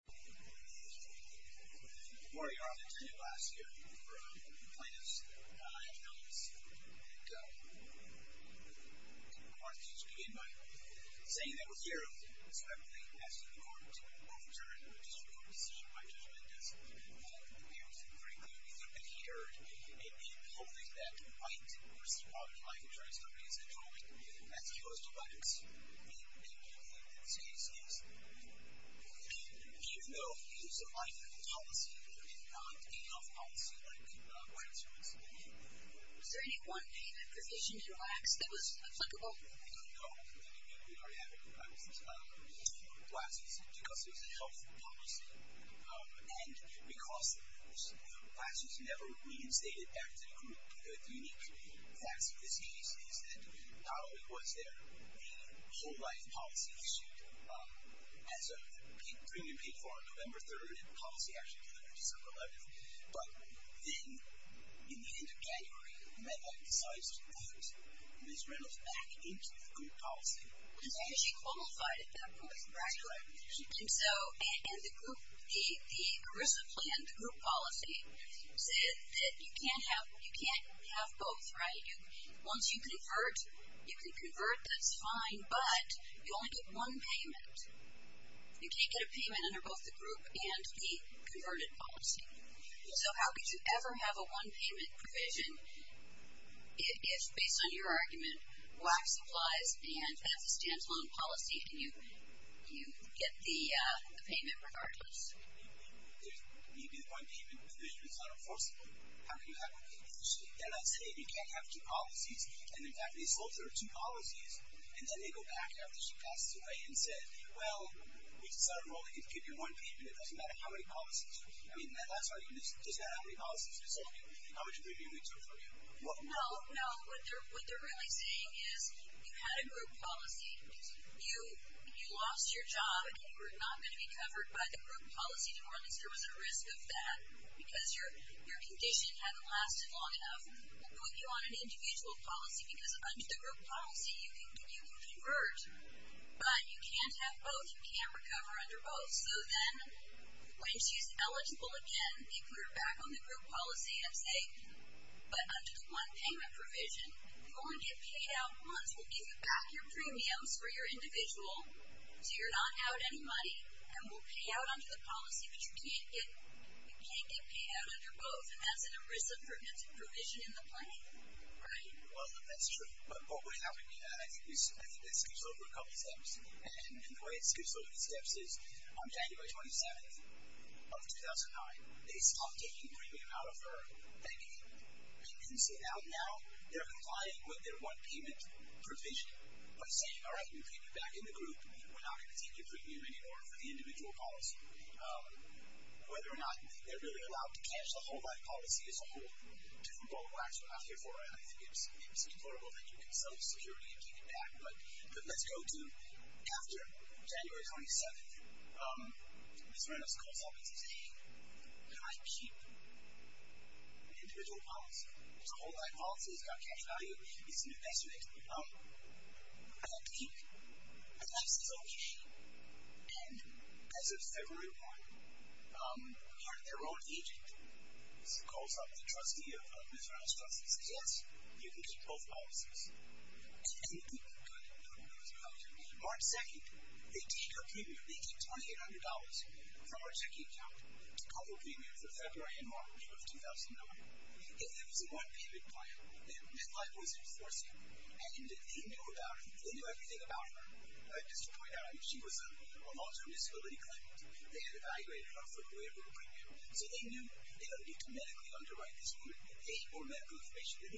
I'm going to start by saying that we're here because I believe it's important to overturn the district court decision by Judge Mendez. We are very clear, we think and hear, and we hope that White v. Metropolitan Life Insurance as opposed to Blacks in the same space. We have no use of life health policy and not a health policy like White v. Life Insurance. Is there anyone in the position you lack that was applicable? No, we don't. We don't have any Blacks in this class. We don't have Blacks in this class because there's a health policy. And because of course, Blacks is never reinstated as a group. One of the unique facts of this case is that not only was there the whole life policy issued as a premium paid for on November 3rd, the policy actually came out December 11th, but then in the end of January, MEDEC decided to put Ms. Reynolds back into the group policy. And then she qualified at that point, correct? That's correct. And so, and the group, the ERISA planned group policy said that you can't have both, right? Once you convert, you can convert, that's fine, but you only get one payment. You can't get a payment under both the group and the converted policy. So how could you ever have a one payment provision if, based on your argument, Blacks applies and that's a standalone policy. Can you get the payment regardless? If you get one payment provision, it's not enforceable. How can that be? They're not saying you can't have two policies. And in fact, they sold her two policies and then they go back after she passed away and said, well, we decided we're only going to give you one payment. It doesn't matter how many policies. I mean, that's our argument. It doesn't matter how many policies. It's only how much premium they took from you. No, no. What they're really saying is you had a group policy. You lost your job and you were not going to be covered by the group policy anymore, and there was a risk of that because your condition hadn't lasted long enough. We'll put you on an individual policy because under the group policy you can convert, but you can't have both. You can't recover under both. So then when she's eligible again, they put her back on the group policy and say, but under the one payment provision, you only get paid out once. We'll give you back your premiums for your individual so you're not out any money and we'll pay out under the policy, but you can't get paid out under both, and that's an ERISA-pertinent provision in the plan. Right. Well, that's true. But what we're having here, I think this goes over a couple steps, and the way this goes over the steps is on January 27th of 2009, they stop taking the premium out of her. They can sit out now. They're complying with their one payment provision by saying, all right, we'll pay you back in the group. We're not going to take your premium anymore for the individual policy. Whether or not they're really allowed to cash the whole-life policy is a whole different ball of wax. We're not here for it. I think it's implausible that you can sell your security and pay me back, but let's go to after January 27th. Ms. Reynolds calls up and says, hey, can I keep the individual policy? The whole-life policy is going to cash value. It's an investment. I have to keep it. And that's his own issue. And as of February 1, we heard their own agent calls up the trustee of Ms. Reynolds' trust and says, yes, you can keep both policies. And it didn't cut into the whole-life policy. March 2, they took your premium. They took $2,800 from our checking account to cover premium for February and March of 2009. And that was a one-period plan. That plan was enforceable. And they knew about her. They knew everything about her. Just to point out, I mean, she was a long-term disability claimant. They had evaluated her for deliverable premium. So they knew they had to medically underwrite this. They had to pay for medical information. And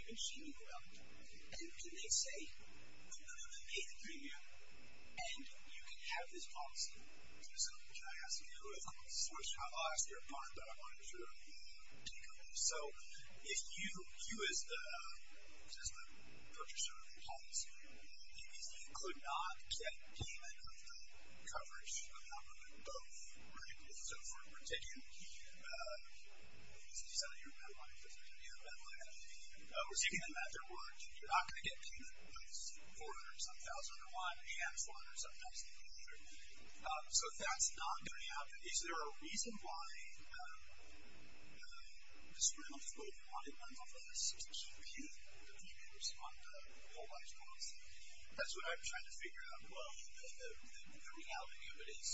can they say, look, I'm going to pay the premium, and you can have this policy. Can I ask you? Of course, I lost your apartment, but I wanted to make sure you didn't lose it. So if you, as the purchaser of the house, basically could not get payment of that coverage on both rents, so for a particular key, let's say you sell your apartment for $3,000, we're taking them at their word. You're not going to get payment, but it's $400,000 or $1,000, and you have $400,000 in the future. So if that's not going to happen, is there a reason why the Supreme Court wanted one of us to compute the premiums on the whole-life policy? That's what I'm trying to figure out. Well, the reality of it is,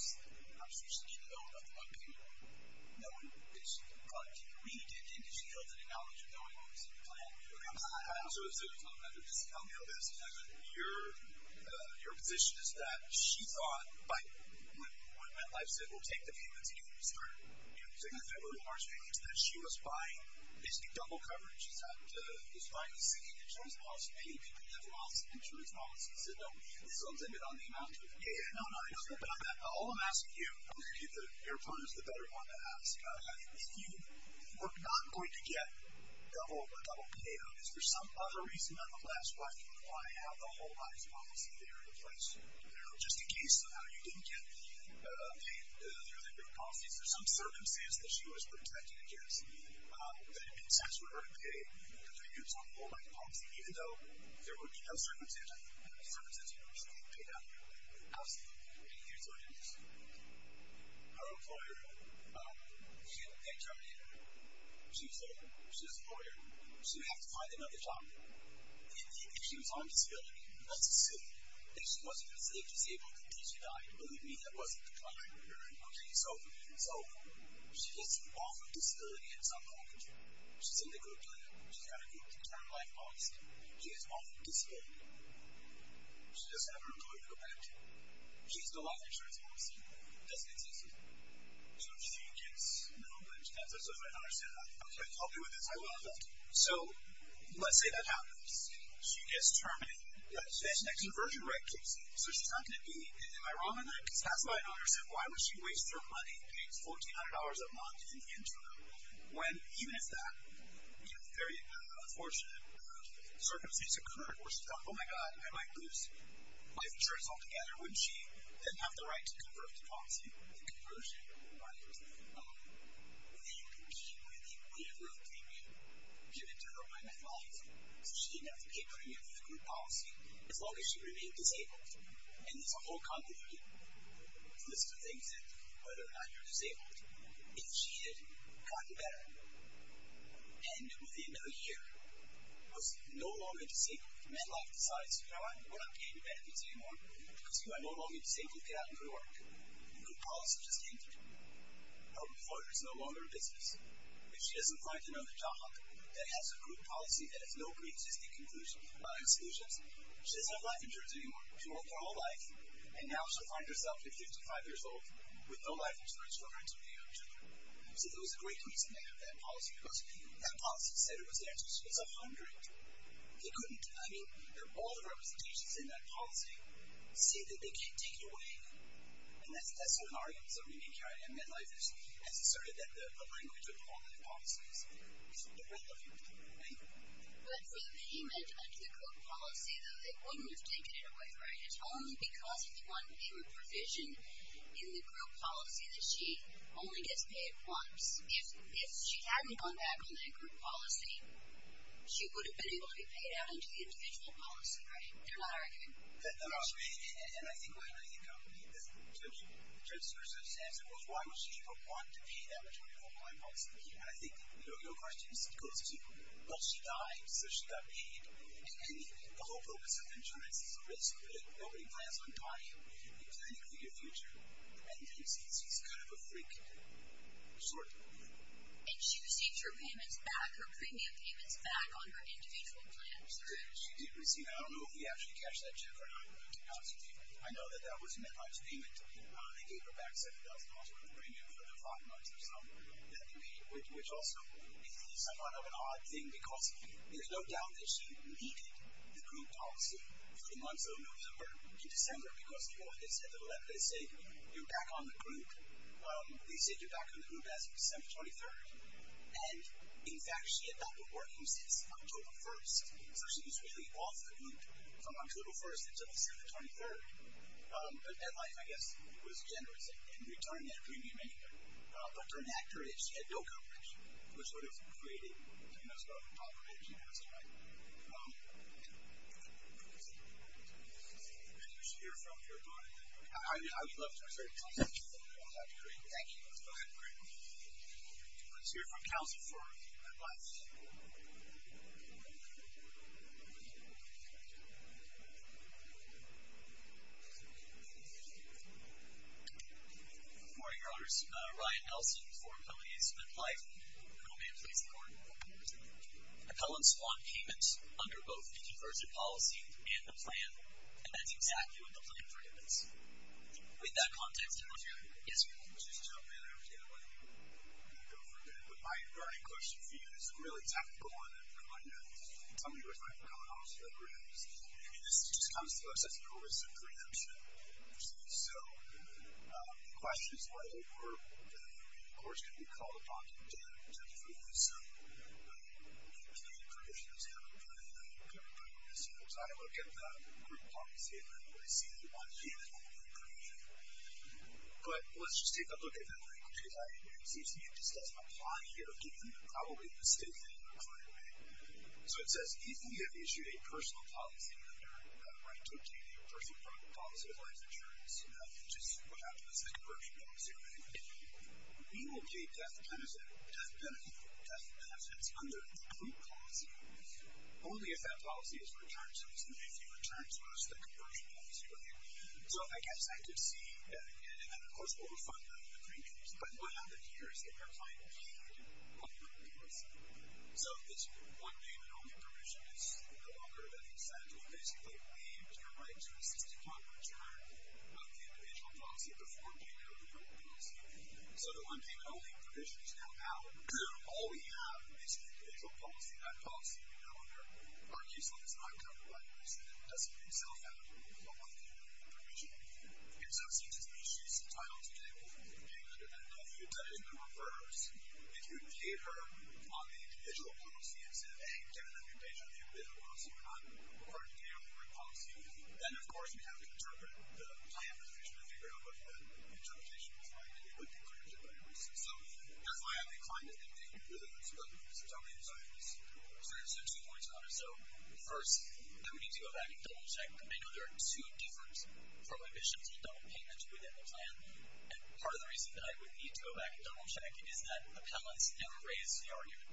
I'm sure she didn't know nothing about payment. No one did. She didn't read it, and she doesn't have knowledge of knowing what was in the plan. I'm sorry to say this, I'm going to have to discount you a little bit. Your position is that she thought by when MetLife said, we'll take the payments and you start taking the federal remarks, that she was buying basically double coverage. She was buying the same insurance policy. Many people have lost insurance policies. So does that get on the amount? Yeah, no, no, it doesn't get on that. All I'm asking you, I'm going to get your opponents the better one to ask, if you were not going to get a double payout, is there some other reason, nonetheless, why you would want to have the whole-life policy there in place? Just in case somehow you didn't get payment earlier than your policies, or some circumstance that she was protected against, that it makes sense for her to pay the premiums on the whole-life policy, even though there would be no circumstances for her to pay that. Absolutely. And here's what it is. Her employer, she didn't get turned in. She was there. She was a lawyer. She would have to find another job. If she was on disability, let's assume that she wasn't disabled until she died. Believe me, that wasn't the plan. Okay, so she gets involved with disability in some way. She's in the group doing it. She's got a group to turn life policy. She is on disability. She doesn't have her employer to go back to. She's in the life insurance policy. That's what it says here. So she gets no benefits. That's what my daughter said. Okay, I'll be with this. I love that. So let's say that happens. She gets terminated. There's an extroversion right kicks in, so she's not going to be paid. Am I wrong on that? Because that's what my daughter said. Why would she waste her money, pay $1,400 a month in the interim, when even if that very unfortunate circumstance occurred where she thought, oh, my God, I might lose life insurance altogether, wouldn't she then have the right to convert to policy? Conversion, right? Would she agree to pay me? You can tell her what I meant by that. So she didn't have to pay for any of the group policy, as long as she remained disabled. And there's a whole convoluted list of things, whether or not you're disabled. If she is, God forbid her. And within a year, was no longer disabled. Men life decides, you know what, I'm not paying you benefits anymore because you are no longer disabled. Get out and go to work. Group policy just came through. Her employer is no longer a business. If she doesn't find another job that has a group policy that has no pre-existing conclusions about any solutions, she doesn't have life insurance anymore. She worked her whole life, and now she'll find herself at 55 years old with no life insurance for her two and a half children. So there was a great reason they had that policy because that policy said it was the answer. She was 100. They couldn't, I mean, all the representations in that policy say that they can't take it away. And that's what an argument is that we make here. I mean, men life has asserted that the language of all men policies is irrelevant, right? Well, it's not the image of the group policy, though. It wouldn't have taken it away, right? It's only because it's one true provision in the group policy that she only gets paid once. If she hadn't gone back on that group policy, she would have been able to be paid out into the individual policy, right? They're not arguing. That's right. And I think what I think the judge's first answer was why would she even want to pay that much money for a blind policy? And I think your question goes to, well, she died, so she got paid. And the whole purpose of insurance is a risk, right? Nobody plans on dying. You're planning for your future. And she's kind of a freak. Short. And she received her payments back, her premium payments back on her individual plans, right? She did receive them. I don't know if we actually cashed that check or not, but $2,000 payment. I know that that was men life's payment. They gave her back $7,000 worth of premium for the five months or so that they paid, which also is somewhat of an odd thing because there's no doubt that she needed the group policy for the months of November to December because people, I guess, at the level they say, you're back on the group, they said you're back on the group as of December 23rd. And, in fact, she had not been working since October 1st. So she was really off the loop from October 1st until December 23rd. Her life, I guess, was generous in returning that premium anyway. But during that period, she had no coverage, which would have created a mess, probably, if she had some money. Maybe we should hear from her. I would love to refer you to her. That would be great. Thank you. Let's hear from Kelsey for advice. Good morning. Good morning, Your Honors. Ryan Nelson for Appellate Investment Life. Appellants want payment under both the conversion policy and the plan, and that's exactly what the plan recommends. With that context, I want you to go ahead. Yes, Your Honor. Okay, I'm going to go for a minute. But my burning question for you is a really technical one, and I'm going to tell you what's going on with the programs. I mean, this just comes to us as a risk of preemption. So the question is, what if we're, of course, going to be called upon to approve this, and we can't get permission to do it. And I'm going to put it on the table, so I don't look at the group policy, and I don't really see anyone here that will give permission. But let's just take a look at that link, because it seems to me it just says my plan here, given probably the state that I am currently in. So it says, if we have issued a personal policy under a right to obtain a personal policy of life insurance, which is what happens with the conversion policy, we will be a death benefit under the group policy, only if that policy is returned to us, and if it returns to us, the conversion policy will be. So I guess I could see that, again, and then, of course, we'll refund that in the three days. But what happened here is that we're finally on the group policy. So this one payment only provision is no longer in effect. We basically waived our right to a 60-point return on the individual policy before payment of the group policy. So the one payment only provision is now out. All we have is the individual policy. That policy, however, argues that it's not covered by the group policy. It doesn't itself have a one payment only provision. It also seems to me she's entitled to pay more for the payment of that. Now, if you did it in the reverse, if you gave her on the individual policy and said, hey, given that you're a danger to the individual policy, we're not required to pay you on the group policy, then, of course, we have to interpret the plan, which we'll figure out whether that interpretation was right, and it would be corrected by reason. So that's why I'm inclined to think that you do this, but it's totally up to you. So two more times. So first, I would need to go back and double-check. I know there are two different prohibitions on double payments within the plan, and part of the reason that I would need to go back and double-check is that appellants now raise the argument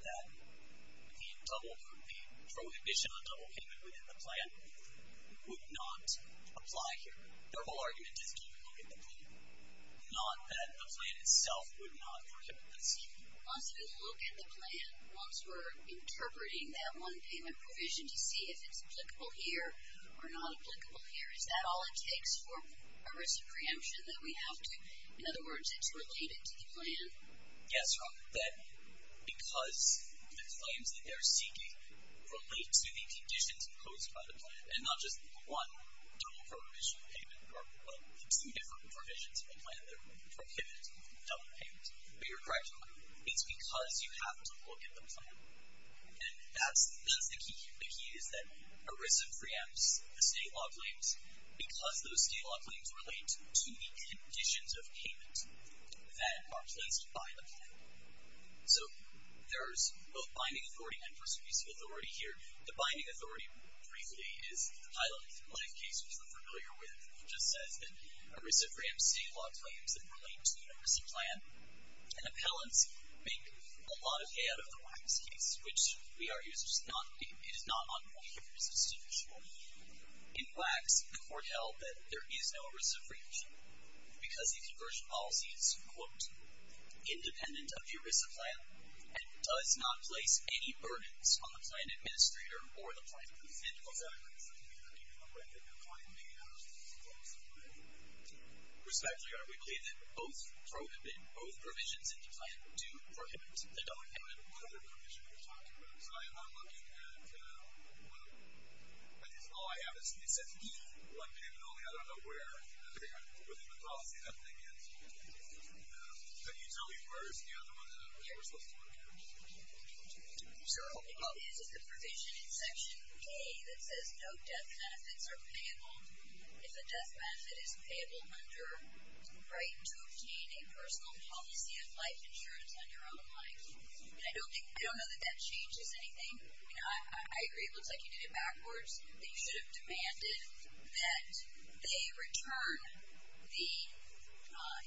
that the prohibition on double payment within the plan would not apply here. Their whole argument is to look at the plan, not that the plan itself would not work at this time. Once we look at the plan, once we're interpreting that one payment provision to see if it's applicable here or not applicable here, is that all it takes for a risk of preemption that we have to? In other words, it's related to the plan? Yes, because the claims that they're seeking relate to the conditions imposed by the plan and not just one double prohibition payment or the two different provisions of the plan that prohibit double payments. But you're correct, Mark. It's because you have to look at the plan. And that's the key. The key is that a risk of preemption, the state law claims, because those state law claims relate to the conditions of payment that are placed by the plan. So there's both binding authority and persuasive authority here. The binding authority, briefly, is the title. If you're familiar with it, it just says that there are a reciproate of state law claims that relate to the ERISA plan. And appellants make a lot of hay out of the wax case, which we argue is not on the ERISA statutory law. In wax, the court held that there is no reciprocation because the conversion policy is, quote, independent of the ERISA plan and does not place any burdens on the plan administrator or the plan provider. And, of course, appellants, I mean, if you're looking for a record, you'll find the ERISA plan somewhere. Respectfully, are we claiming both provisions in the plan? Two prohibits. They don't have another provision you're talking about. So I am not looking at one. That is, all I have is the exception to one plan, and only I don't know where. I don't think I'm really going to be able to see that thing yet. Can you tell me where is the other one? Yeah, you're supposed to look at it. Sure. Well, it is the provision in Section A that says no death benefits are payable. If a death benefit is payable under the right to obtain a personal policy of life insurance on your own life, I don't know that that changes anything. I agree it looks like you did it backwards, that you should have demanded that they return the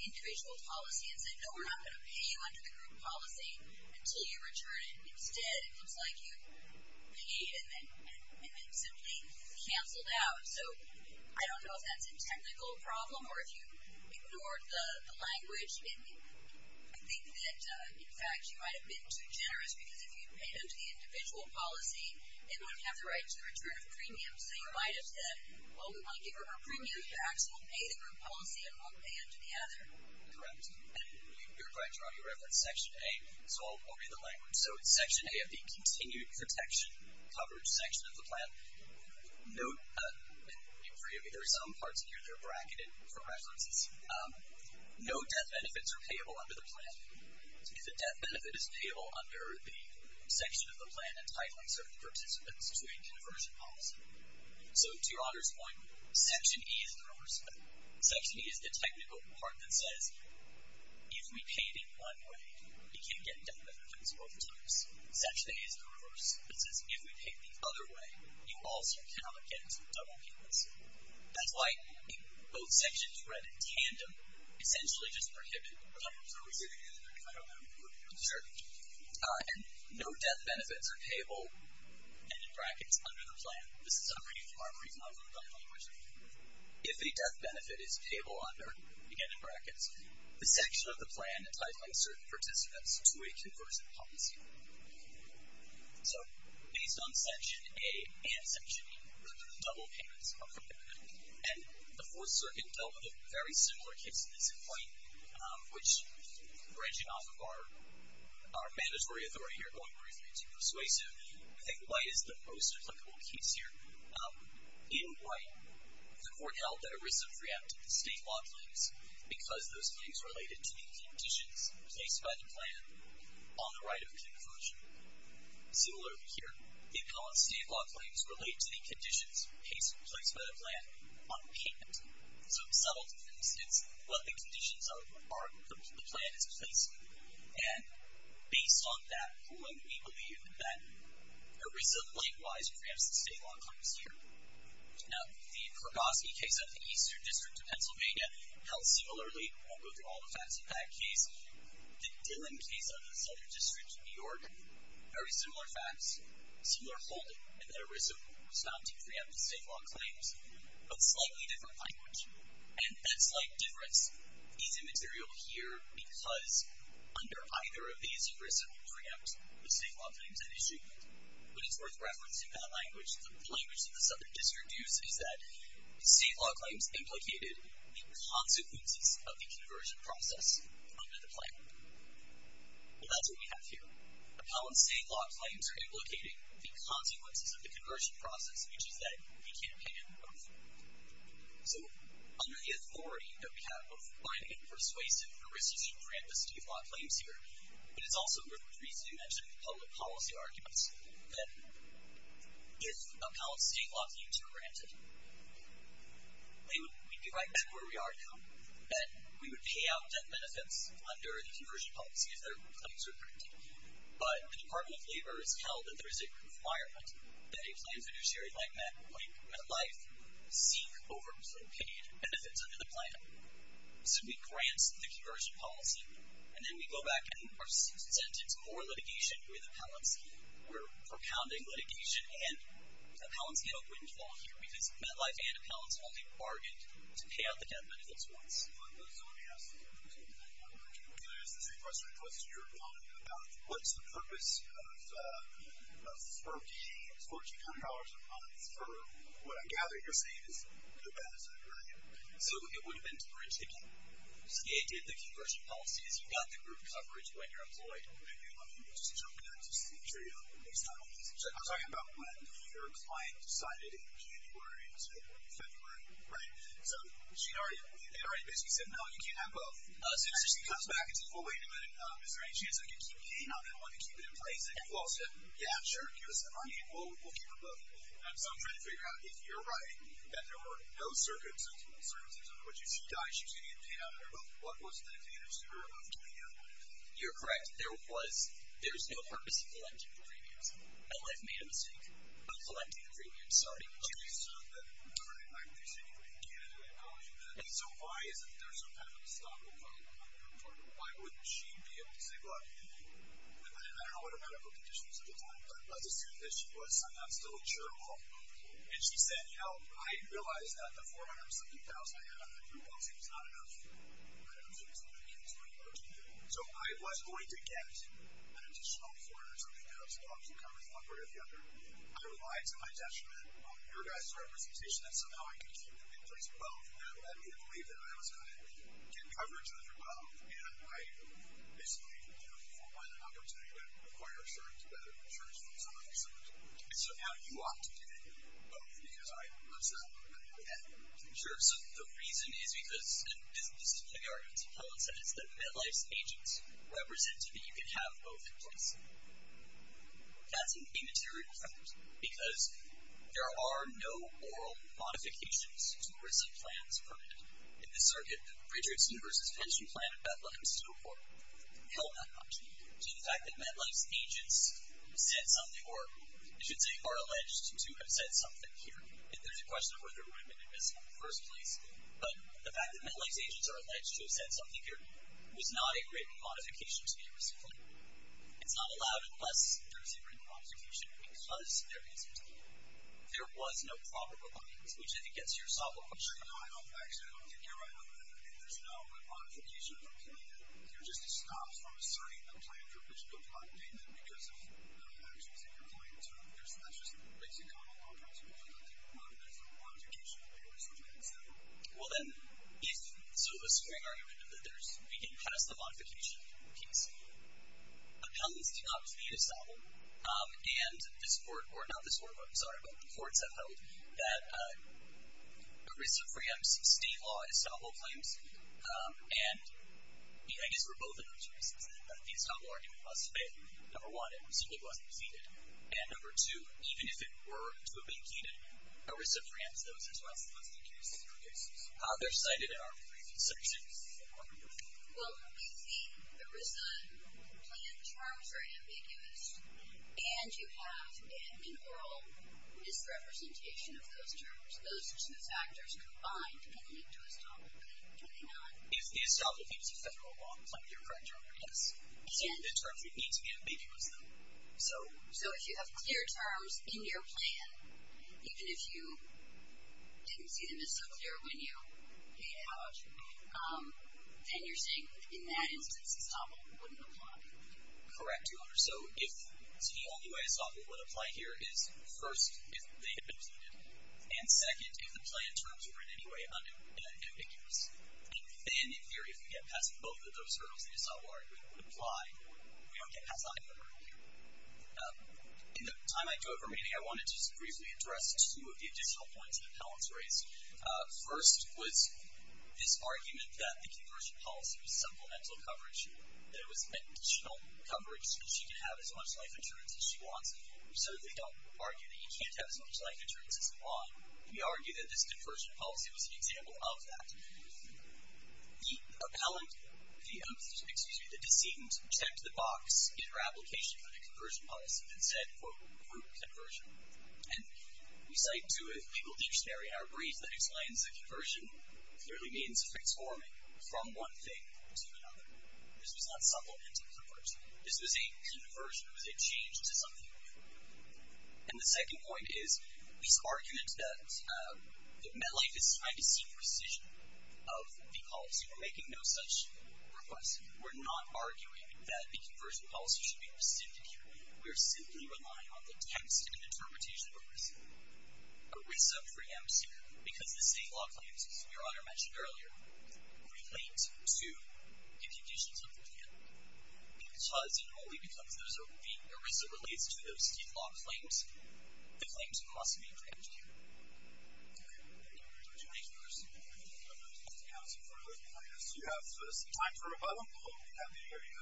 individual policy and say, no, we're not going to pay you under the group policy until you return it instead. It looks like you paid and then simply canceled out. So I don't know if that's a technical problem or if you ignored the language. I think that, in fact, you might have been too generous because if you paid under the individual policy, they wouldn't have the right to return a premium. So you might have said, well, we won't give her her premium. She actually will pay the group policy and won't pay under the other. Correct. And you're correct on your reference, Section A. So I'll read the language. So it's Section A of the Continued Protection coverage section of the plan. Note, and agree with me, there are some parts here that are bracketed for references. No death benefits are payable under the plan. If a death benefit is payable under the section of the plan entitling certain participants to a conversion policy. So to your Honor's point, Section E is the reverse of that. It says, if we pay it in one way, it can get death benefits both ways. Section A is the reverse. It says, if we pay it the other way, you also cannot get double payments. That's why both sections read in tandem essentially just prohibit the numbers that we're getting in there. I don't know if that would be good. Sure. And no death benefits are payable, and in brackets, under the plan. This is a very far-fetched language. If a death benefit is payable under, again in brackets, the section of the plan entitling certain participants to a conversion policy. So based on Section A and Section E, the double payments are prohibited. And the Fourth Circuit dealt with very similar cases in this complaint, which, branching off of our mandatory authority here, going briefly to persuasion, I think lays the most applicable case here In white, the court held that ERISA preempted the state law claims because those claims related to the conditions placed by the plan on the right of conversion. Similar here, it called state law claims related to the conditions placed by the plan on payment. So it settled, for instance, what the conditions are the plan is placing. And based on that ruling, we believe that ERISA likewise preempts the state law claims here. Now, the Kurgoski case of the Eastern District of Pennsylvania held similarly. We won't go through all the facts of that case. The Dillon case of the Southern District of New York, very similar facts, similar holding, in that ERISA was found to preempt the state law claims, but slightly different language. And that's like difference is immaterial here because under either of these, ERISA will preempt the state law claims at issue. But it's worth referencing that language that the language in the Southern District used is that state law claims implicated the consequences of the conversion process under the plan. And that's what we have here. Appellant's state law claims implicated the consequences of the conversion process, which is that he can't pay any more money. So under the authority that we have of finding a persuasive ERISA should preempt the state law claims here, it is also worth the reason to mention the public policy arguments that if appellant's state law claims were granted, we'd be right back where we are now. That we would pay out debt benefits under the conversion policy if their claims were granted. But the Department of Labor has held that there is a requirement that a claims judiciary like MetLife seek over-paid benefits under the plan. So we grant the conversion policy, and then we go back and we are sent into more litigation where the appellants were propounding litigation. And appellants get a windfall here because MetLife and appellants all get bargained to pay out the debt benefits once. So let me ask the same question. I'm going to ask the same question. What's your comment about what's the purpose of furking $1,400 a month for what I gather you're saying is the bad side, right? So it wouldn't have been too rich if the state did the conversion policies. You've got the group coverage when you're employed. I'm just joking. That's just the material. It's not amazing. I'm talking about when your client decided in January or February, right? So they already basically said, no, you can't have both. So she comes back and says, well, wait a minute. Is there any chance I can keep paying on it? I want to keep it in place. And you all said, yeah, sure, give us that money and we'll keep it both. So I'm trying to figure out if you're right, that there were no circumstances in which if she died, she was going to get paid out of her book. What was the answer of getting out of her book? You're correct. There was no purpose in collecting the premiums. My life made a mistake on collecting the premiums. I'm sorry. I'm just saying you can't do that. And so why is it that there's some kind of a stop and go? Why wouldn't she be able to say, look, I don't know what her medical condition was at the time, but let's assume that she was somehow still curable. And she said, you know, I realized that the $470,000 I had on the group policy was not enough. I don't think it's enough. So I was going to get an additional $470,000 to cover one part or the other. I relied to my detriment on your guys' representation that somehow I could keep them in place both. But I didn't believe that I was going to cover each other both. And I basically, you know, for one, I'm not going to even require insurance, whether insurance funds or not insurance. And so how do you opt to take both? Because I understand that you would have to. Sure. So the reason is because, and this is a big argument. It's a valid sentence that MetLife's agents represented that you could have both in place. That's a material fact, because there are no oral modifications to recent plans permitted. In the circuit, Bridgerton versus Pension Plan and Bethlehem still hold that option. See, the fact that MetLife's agents said something, or I should say are alleged to have said something here. There's a question of whether it would have been admissible in the first place. But the fact that MetLife's agents are alleged to have said something here is not a written modification to a recent plan. It's not allowed unless there's a written modification, because there isn't. There was no proper rebuttance, which I think gets to your sophomore question. No, actually, I don't think you're right on that. There's no modification of a plan. You're just discomfort in citing a plan for a pension built by a payment because of actions that you're going to. That's just basically what I'm talking about. I don't think there's a modification to a recent plan, so. Well, then, if, sort of a swing argument, that we can pass the modification case. Appellants do not plead estoppel. And this court, or not this court, but I'm sorry, but the courts have held that Carissa Fram's state law estoppel claims. And I guess there were both of those reasons that the estoppel argument wasn't made. Number one, it simply wasn't defeated. And number two, even if it were to have been defeated, Carissa Fram's those as well. How they're cited in our brief section. Well, I think the recent plan terms are ambiguous. And you have an oral misrepresentation of those terms. Those two factors combined can lead to estoppel. Can they not? Is the estoppel case a federal law claim? You're correct on that. Yes. And the terms would need to be ambiguous, though. So if you have clear terms in your plan, even if you didn't see them as so clear when you made it out, then you're saying, in that instance, estoppel wouldn't apply. Correct, Your Honor. So if TLUA estoppel would apply here, it is first, if they had been defeated. And second, if the plan terms were in any way ambiguous. And then, in theory, if we get past both of those hurdles, the estoppel argument would apply. We don't get past either hurdle here. In the time I do have remaining, I wanted to just briefly address two of the additional points that appellants raised. First was this argument that the conversion policy was supplemental coverage, that it was additional coverage, so that she could have as much life insurance as she wanted. We certainly don't argue that you can't have as much life insurance as you want. We argue that this conversion policy was an example of that. The appellant, excuse me, the decedent, checked the box in her application for the conversion policy and said, quote, group conversion. And we cite two of the people in each area. Our brief that explains the conversion clearly means a fixed forming from one thing to another. This was not supplemental coverage. This was a conversion. It was a change to something. And the second point is this argument that MetLife is trying to seek rescission of the policy. We're making no such request. We're not arguing that the conversion policy should be rescinded here. We're simply relying on the text and interpretation of ERISA. ERISA preempts you, because the state law claims, as Your Honor mentioned earlier, relate to impugnations of the plan. And because ERISA relates to those state law claims, the claims must be preempted. Thank you. Thank you, Your Honor. Thank you, counsel. Do you have some time for rebuttal? We have the area.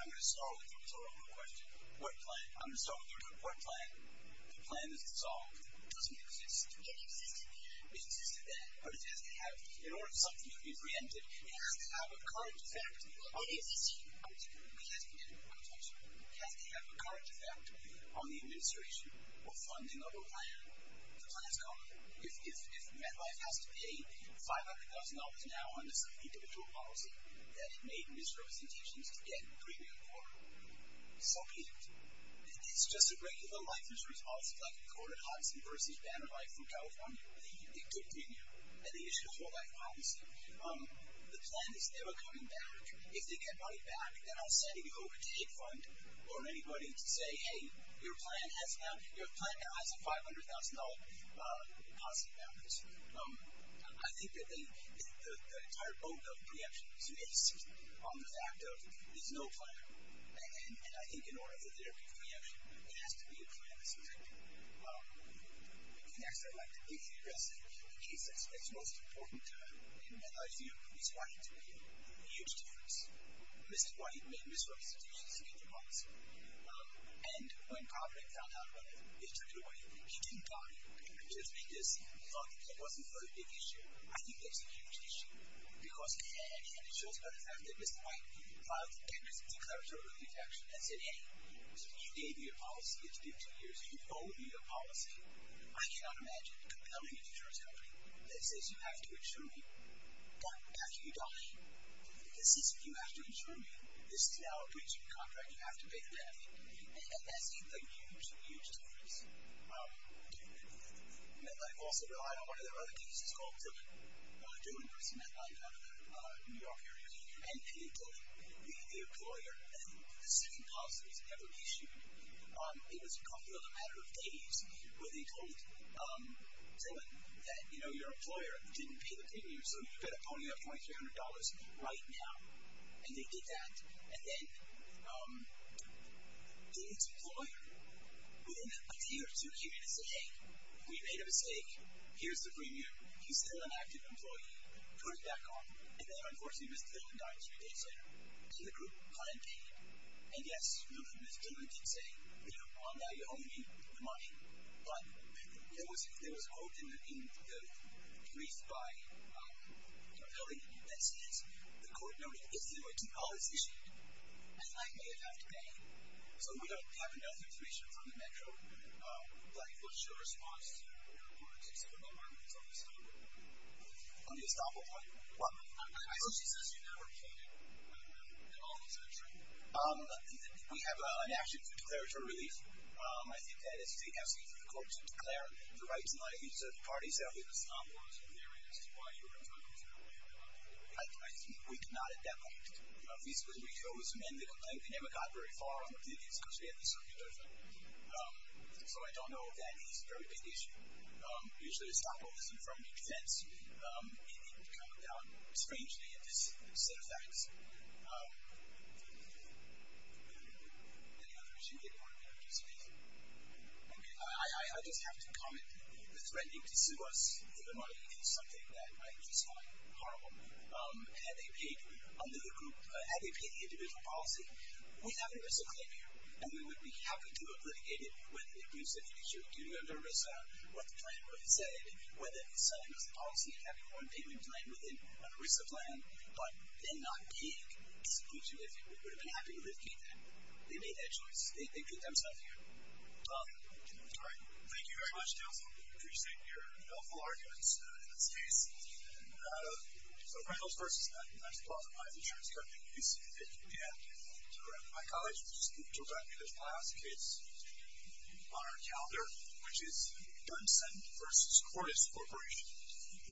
I'm going to start with the report plan. The plan is dissolved. It doesn't exist. It existed. It existed then, but it doesn't have, in order for something to be preempted, it has to have a current effect on the administration or funding of a plan. The plan is gone. If MetLife has to pay $500,000 now under some individual policy that it made misrepresentations to get premium for, so be it. If it's just a regular life insurance policy like recorded Hodgson versus Banner Life from California, it could be new. It could be an issue of whole life policy. The plan is never coming back. If they get money back, then I'll send an overtake fund or anybody to say, hey, your plan now has a $500,000 deposit balance. I think that the entire boat of preemption is based on the fact of there's no plan. And I think in order for there to be preemption, there has to be a plan that's preempted. Next, I'd like to briefly address the case that's most important to MetLife's view. Chris White made a huge difference. Chris White made misrepresentations to get the policy. And when Kauffman found out about it, they took it away. He didn't doubt it. He just made this thought that that wasn't a very big issue. I think that's a huge issue. Because again, it shows by the fact that Mr. White filed a tenuous declaratory rejection and said, hey, you gave me a policy that's been two years. You owe me a policy. I cannot imagine compelling a insurance company that says, you have to insure me. After you die, this isn't you have to insure me. This is now a breach of contract. You have to pay the death. And that's made a huge, huge difference. MetLife also relied on one of their other cases called Dillon. Dillon was a man down in the New York area. And Peter Dillon, being the employer and the second policy that was never issued, it was a matter of days where they told Dillon that your employer didn't pay the premium, so you've got to pony up $2,300 right now. And they did that. And then Dillon's employer, within a year or two, came in and said, hey, we made a mistake. Here's the premium. He's still an active employee. Put it back on. And then unfortunately, Mr. Dillon died three days later. And the group client paid him. And yes, Mr. Dillon did say, well, now you owe me the money. But there was a quote in the brief by a building that says, the court noted, if there were $2 issued, then I may have to pay. So we don't have enough information from the Metro. Blackfoot, your response to your opponents in Silicon Valley was on the estoppel point. On the estoppel point? Well, I think she says you never paid. I don't know that all of those are true. We have an action to declare it a relief. I think that is to take counsel to the court to declare the rights and liabilities of the party. So I think the estoppel was a clear answer to why you were in trouble. I think we could not have done that. Visibly, we chose men. We never got very far on the billions because we had the circulation. So I don't know if that is a very big issue. Usually, the estoppel isn't from the defense. It would come down, strangely, at this set of facts. Any other issue that you want to be able to speak? I mean, I just have to comment that threatening to sue us for minority is something that I just find horrible. Had they paid the individual policy, we'd have a RISA claim here. And we would be happy to have litigated whether it was an issue due to a RISA, what the plaintiff would have said, whether he said it was the policy and having one payment plan within a RISA plan, but then not paid, we would have been happy to litigate that. They made that choice. They did themselves here. That's great. Thank you very much, Delfo. I appreciate your helpful arguments in this case. And so Reynolds versus Netsch. Both of my attorneys go to UCF. Yeah, that's correct. My colleague, who's still driving me to class, is on our calendar, which is Dunson versus Cordes Corporation.